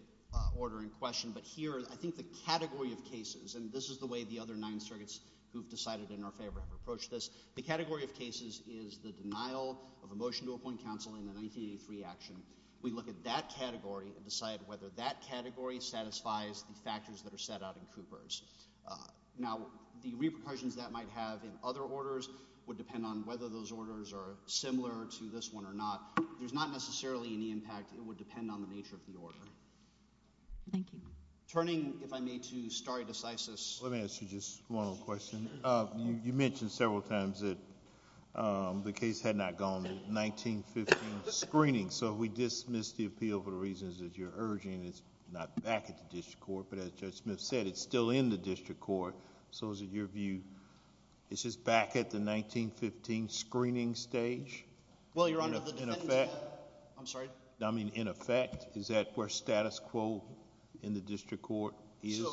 order in question, but here, I think the category of cases, and this is the way the other nine circuits who've decided in our favor have approached this, the category of cases is the denial of a motion to appoint counsel in the 1983 action. We look at that category and decide whether that category satisfies the factors that are set out in Cooper's. Now, the repercussions that might have in other orders would depend on whether those orders are similar to this one or not. There's not necessarily any impact. It would depend on the nature of the order. Thank you. Turning, if I may, to stare decisis. Let me ask you just one more question. You mentioned several times that the case had not gone to 1915 screening, so we dismiss the appeal for the reasons that you're urging. It's not back at the district court, but as Judge Smith said, it's still in the district court. So is it your view it's just back at the 1915 screening stage? Well, Your Honor, the defendants... I'm sorry? I mean, in effect, is that where status quo in the district court is?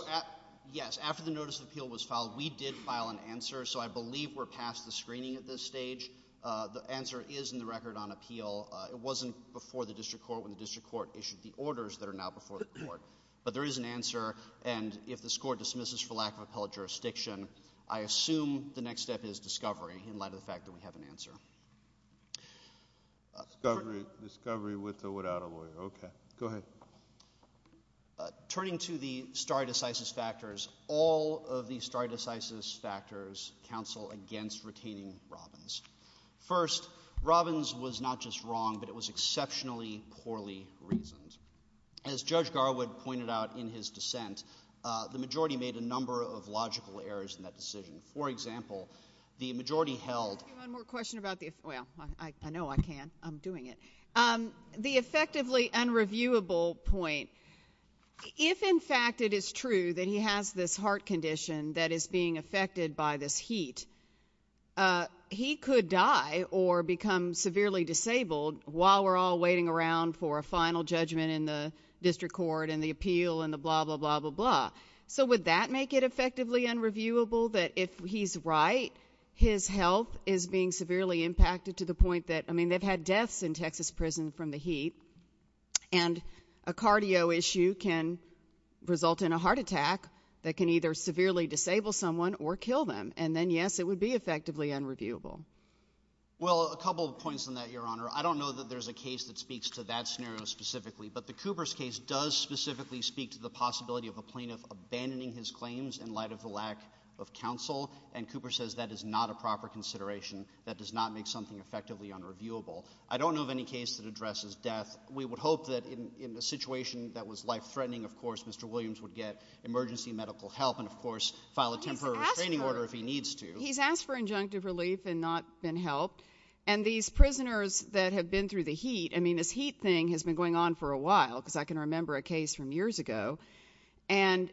Yes. After the notice of appeal was filed, we did file an answer, so I believe we're past the screening at this stage. The answer is in the record on appeal. It wasn't before the district court when the district court issued the orders that are now before the court, but there is an answer and if the score dismisses for lack of appellate jurisdiction, I assume the next step is discovery in light of the fact that we have an answer. Discovery with or without a lawyer. Okay. Go ahead. Turning to the stare decisis factors, all of the stare decisis factors counsel against retaining Robbins. First, Robbins was not just wrong, but it was exceptionally poorly reasoned. As Judge Garwood pointed out in his dissent, the majority made a number of logical errors in that decision. For example, the majority held... One more question about the... Well, I know I can. I'm doing it. The effectively unreviewable point. If in fact it is true that he has this heart condition that is being affected by this heat, he could die or become severely disabled while we're all waiting around for a district court and the appeal and the blah, blah, blah, blah, blah. So would that make it effectively unreviewable that if he's right, his health is being severely impacted to the point that... I mean, they've had deaths in Texas prison from the heat, and a cardio issue can result in a heart attack that can either severely disable someone or kill them. And then, yes, it would be effectively unreviewable. Well, a couple of points on that, Your Honor. I don't know that there's a case that speaks to that scenario specifically, but the Cooper's case does specifically speak to the possibility of a plaintiff abandoning his claims in light of the lack of counsel, and Cooper says that is not a proper consideration that does not make something effectively unreviewable. I don't know of any case that addresses death. We would hope that in a situation that was life-threatening, of course, Mr. Williams would get emergency medical help and, of course, file a temporary restraining order if he needs to. He's asked for injunctive relief and not been helped, and these prisoners that have been through the heat, I mean, this heat thing has been going on for a while, because I can remember a case from years ago, and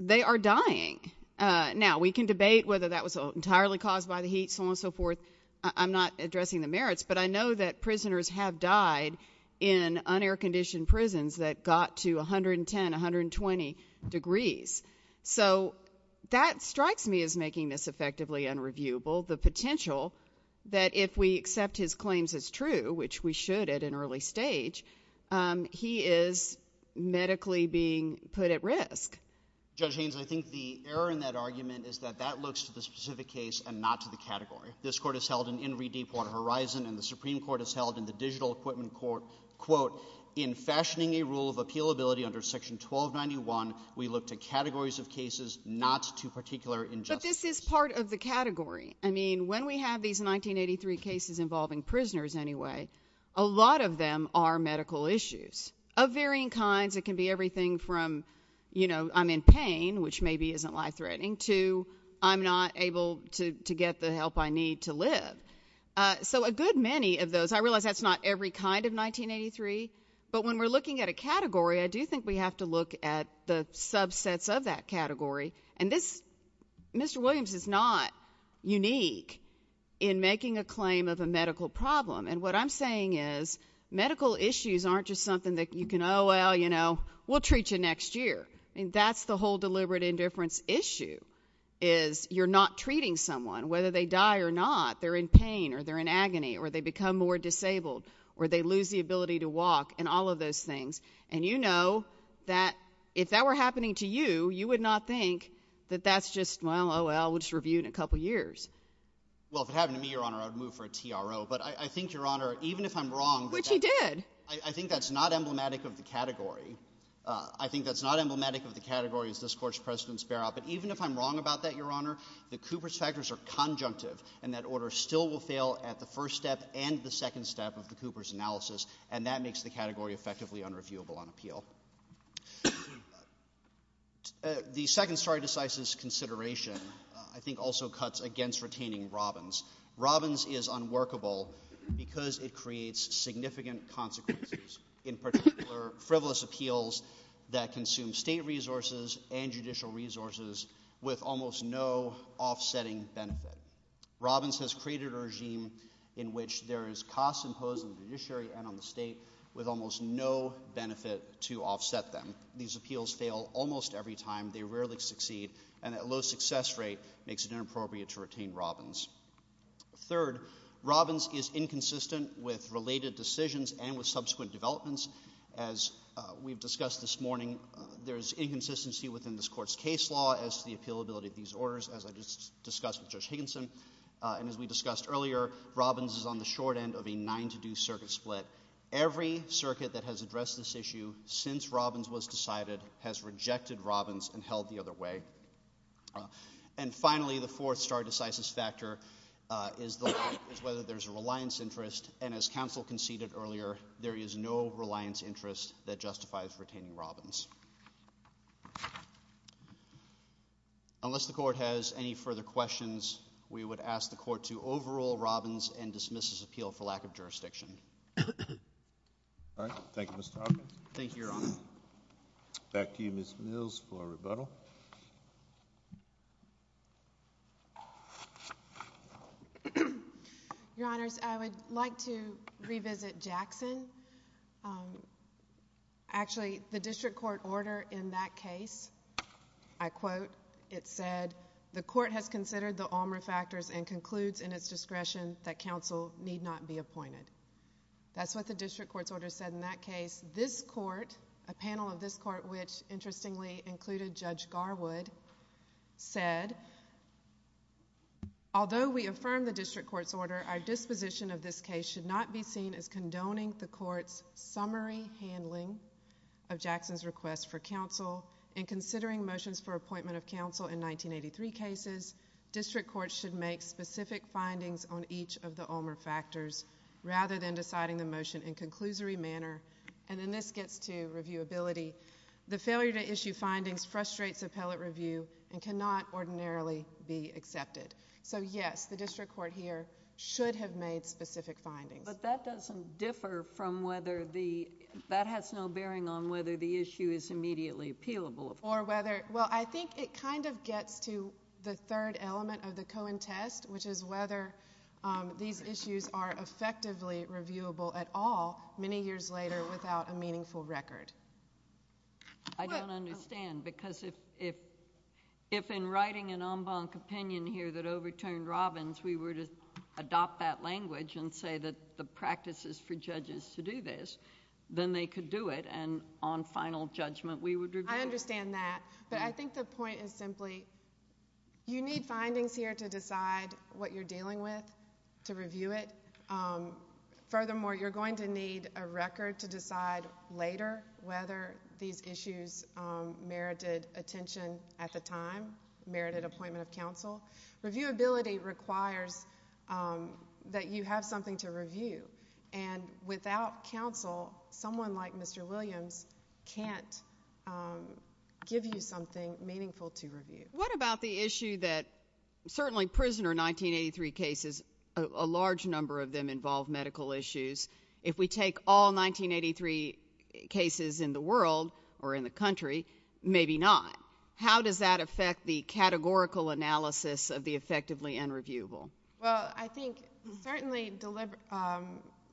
they are dying. Now, we can debate whether that was entirely caused by the heat, so on and so forth. I'm not addressing the merits, but I know that prisoners have died in un-air-conditioned prisons that got to 110, 120 degrees. So, that strikes me as making this effectively unreviewable. The potential that if we accept his claims as true, which we should at an early stage, he is medically being put at risk. Judge Haynes, I think the error in that argument is that that looks to the specific case and not to the category. This court has held an in-redeem point of horizon, and the Supreme Court has held in the Digital Equipment Court quote, in fashioning a rule of appealability under Section 1291, we look to categories of cases not to particular injustices. But this is part of the category. I mean, when we have these 1983 cases involving prisoners, anyway, a lot of them are medical issues of varying kinds. It can be everything from, you know, I'm in pain, which maybe isn't life-threatening, to I'm not able to get the help I need to live. So, a good many of those, I realize that's not every kind of 1983, but when we're looking at a category, I do think we have to look at the subsets of that category. And this, Mr. Williams, is not unique in making a claim of a medical problem. And what I'm saying is medical issues aren't just something that you can, oh well, you know, we'll treat you next year. That's the whole deliberate indifference issue, is you're not treating someone whether they die or not, they're in pain or they're in agony, or they become more disabled, or they lose the ability to walk, and all of those things. And you know that if that were happening to you, you would not think that that's just, well, oh well, we'll just review it in a couple years. Well, if it happened to me, Your Honor, I would move for a TRO. But I think, Your Honor, even if I'm wrong Which he did! I think that's not emblematic of the category. I think that's not emblematic of the category as this Court's precedents bear out, but even if I'm wrong about that, Your Honor, the Cooper's factors are conjunctive, and that order still will fail at the first step and the second step of the Cooper's analysis, and that makes the category effectively unreviewable on appeal. The second story decisive consideration, I think, also cuts against retaining Robbins. Robbins is unworkable because it creates significant consequences, in particular frivolous appeals that consume state resources and judicial resources with almost no offsetting benefit. Robbins has created a regime in which there is costs imposed on the judiciary and on the state with almost no benefit to offset them. These appeals fail almost every time, they rarely succeed and that low success rate makes it inappropriate to retain Robbins. Third, Robbins is inconsistent with related decisions and with subsequent developments as we've discussed this morning there's inconsistency within this Court's case law as to the appealability of these orders, as I just discussed with Judge Higginson and as we discussed earlier Robbins is on the short end of a nine to do circuit split. Every circuit that has addressed this issue since Robbins was decided has rejected Robbins and held the other way. And finally the fourth star decisive factor is whether there's a reliance interest and as counsel conceded earlier, there is no reliance interest that justifies retaining Robbins. Unless the Court has any further questions, we would ask the Court to overrule Robbins and dismiss this appeal for lack of jurisdiction. Alright, thank you Mr. Robbins. Thank you, Your Honor. Back to you Ms. Mills for a rebuttal. Your Honors, I would like to revisit Jackson. Um, actually the District Court order in that case, I quote it said, the Court has considered the Alma factors and concludes in its discretion that counsel need not be appointed. That's what the District Court's order said in that case. This Court, a panel of this Court which interestingly included Judge Garwood, said although we affirm the District Court's order our disposition of this case should not be seen as condoning the Court's summary handling of Jackson's request for counsel and considering motions for appointment of counsel in 1983 cases District Court should make specific findings on each of the Alma factors rather than deciding the motion in conclusory manner and then this gets to reviewability the failure to issue findings frustrates appellate review and cannot ordinarily be accepted so yes, the District Court here should have made specific findings But that doesn't differ from whether the, that has no bearing on whether the issue is immediately appealable or whether, well I think it kind of gets to the third element of the Cohen test which is whether these issues are effectively reviewable at all many years later without a meaningful record I don't understand because if in writing an en banc opinion here that overturned Robbins we were to adopt that language and say that the practice is for judges to do this then they could do it and on final judgment we would review I understand that but I think the point is simply you need findings here to decide what you're dealing with to review it furthermore you're going to need a record to decide later whether these issues merited attention at the time merited appointment of counsel reviewability requires that you have something to review and without counsel someone like Mr. Williams can't give you something meaningful to review. What about the issue that certainly prisoner 1983 cases a large number of them involve medical issues if we take all 1983 cases in the world or in the country maybe not how does that affect the categorical analysis of the effectively and reviewable? Well I think certainly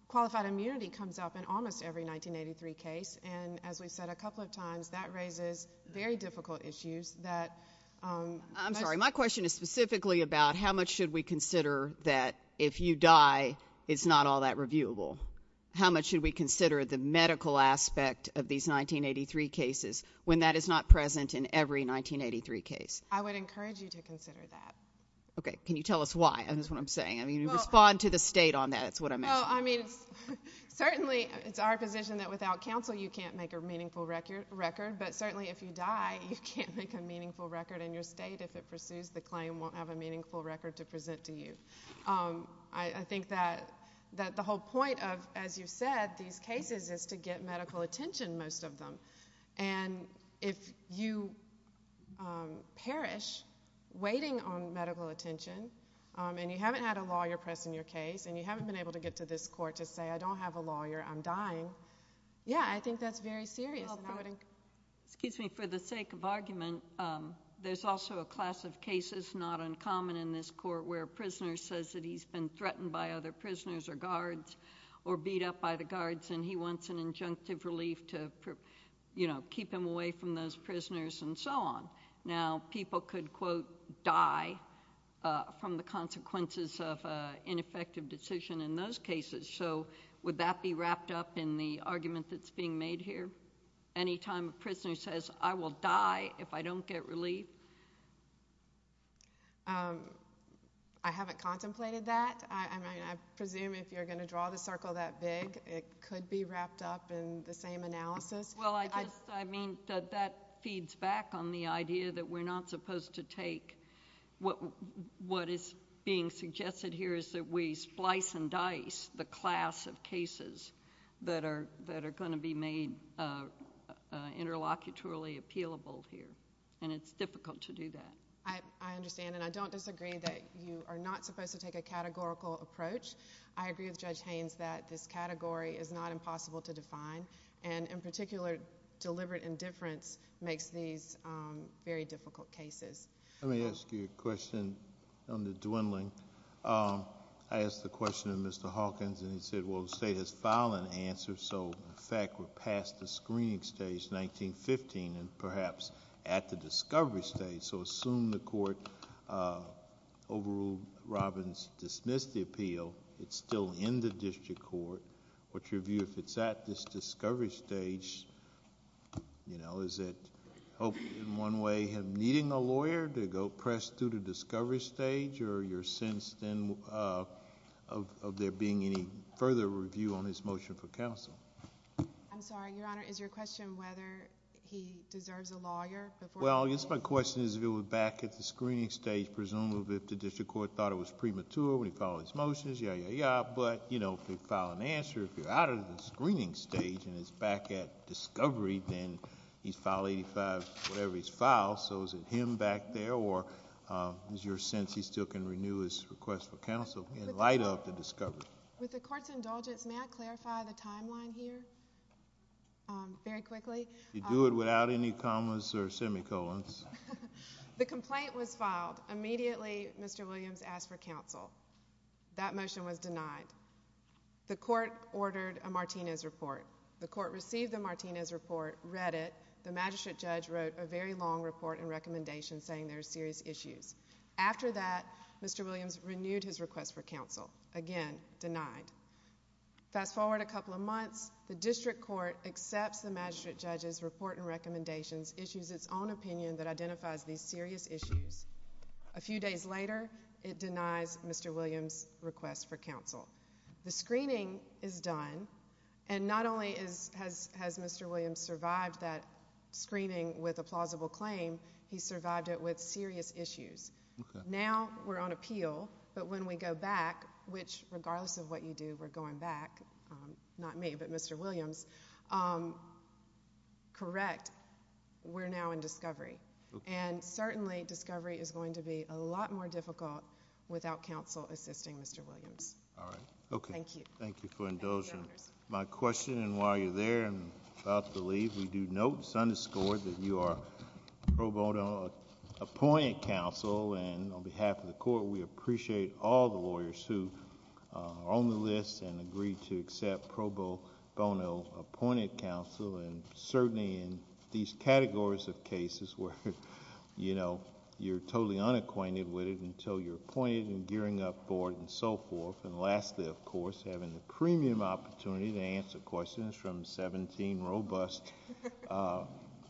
qualified immunity comes up in almost every 1983 case and as we said a couple of times that raises very difficult issues I'm sorry my question is specifically about how much should we consider that if you die it's not all that reviewable how much should we consider the medical aspect of these 1983 cases when that is not present in every 1983 case? I would encourage you to consider that. Can you tell us why? Respond to the state on that Certainly it's our position that without counsel you can't make a meaningful record but certainly if you die you can't make a meaningful record in your state if it pursues the claim won't have a meaningful record to present to you. I think that the whole point of as you said these cases is to get medical attention most of them and if you perish waiting on medical attention and you haven't had a lawyer pressing your case and you haven't been able to get to this court to say I don't have a lawyer I'm dying. Yeah I think that's very serious. Excuse me for the sake of argument there's also a class of cases not uncommon in this court where a prisoner says that he's been threatened by other prisoners or guards or beat up by the guards and he wants an injunctive relief to keep him away from those prisoners and so on. Now people could quote die from the consequences of ineffective decision in those cases so would that be wrapped up in the argument that's being made here anytime a prisoner says I will die if I don't get relief? I haven't contemplated that I presume if you're going to draw the circle that big it could be wrapped up in the same analysis. Well I mean that feeds back on the idea that we're not supposed to take what is being suggested here is that we splice and dice the class of cases that are going to be made interlocutory appealable here and it's difficult to do that. I understand and I don't disagree that you are not supposed to take a categorical approach. I agree with Judge Haynes that this category is not impossible to define and in particular deliberate indifference makes these very difficult cases. Let me ask you a question on the dwindling. I asked the question of Mr. Hawkins and he said well the state has filed an answer so in fact we're past the screening stage 1915 and perhaps at the discovery stage so assume the court overruled Robbins dismissed the appeal it's still in the district court what's your view if it's at this discovery stage you know is it hope in one way needing a lawyer to go press through the discovery stage or your sense then of there being any further review on his motion for counsel? I'm sorry your honor is your question whether he deserves a lawyer before? Well yes my question is if it was back at the screening stage presumably if the district court thought it was premature when he filed his motions ya ya ya but you know if you file an answer if you're out of the screening stage and it's back at discovery then he's filed 85 whatever he's filed so is it him back there or is your sense he still can renew his request for counsel in light of the discovery? With the court's indulgence may I clarify the timeline here? Very quickly You do it without any commas or semicolons The complaint was filed immediately Mr. Williams asked for counsel that motion was denied The court ordered a Martinez report. The court received the Martinez report read it the magistrate judge wrote a very long report and recommendation saying there's serious issues. After that Mr. Williams renewed his request for counsel again denied Fast forward a couple of months the district court accepts the magistrate judge's report and recommendations issues its own opinion that identifies these serious issues. A few days later it denies Mr. Williams request for counsel The screening is done and not only has Mr. Williams survived that screening with a plausible claim he survived it with serious issues Now we're on appeal but when we go back which regardless of what you do we're going back not me but Mr. Williams correct we're now in discovery and certainly discovery is going to be a lot more difficult without counsel assisting Mr. Williams Thank you for indulging My question and while you're there about to leave we do note that you are pro bono appointed counsel and on behalf of the court we appreciate all the lawyers who are on the list and agree to accept pro bono appointed counsel and certainly in these categories of cases where you know you're totally unacquainted with it until you're appointed and gearing up for it and so forth and lastly of course having the premium opportunity to answer questions from 17 robust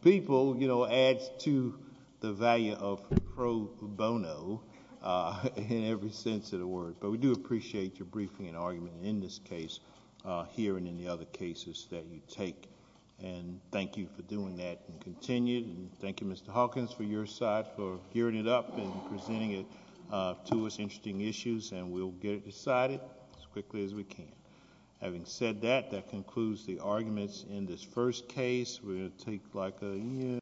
people you know adds to the value of pro bono in every sense of the word but we do appreciate your briefing and argument in this case here and in the other cases that you take and thank you for doing that and continue Thank you Mr. Hawkins for your side for gearing it up and presenting it to us interesting issues and we'll get it decided as quickly as we can. Having said that that concludes the arguments in this first case we're going to take like a year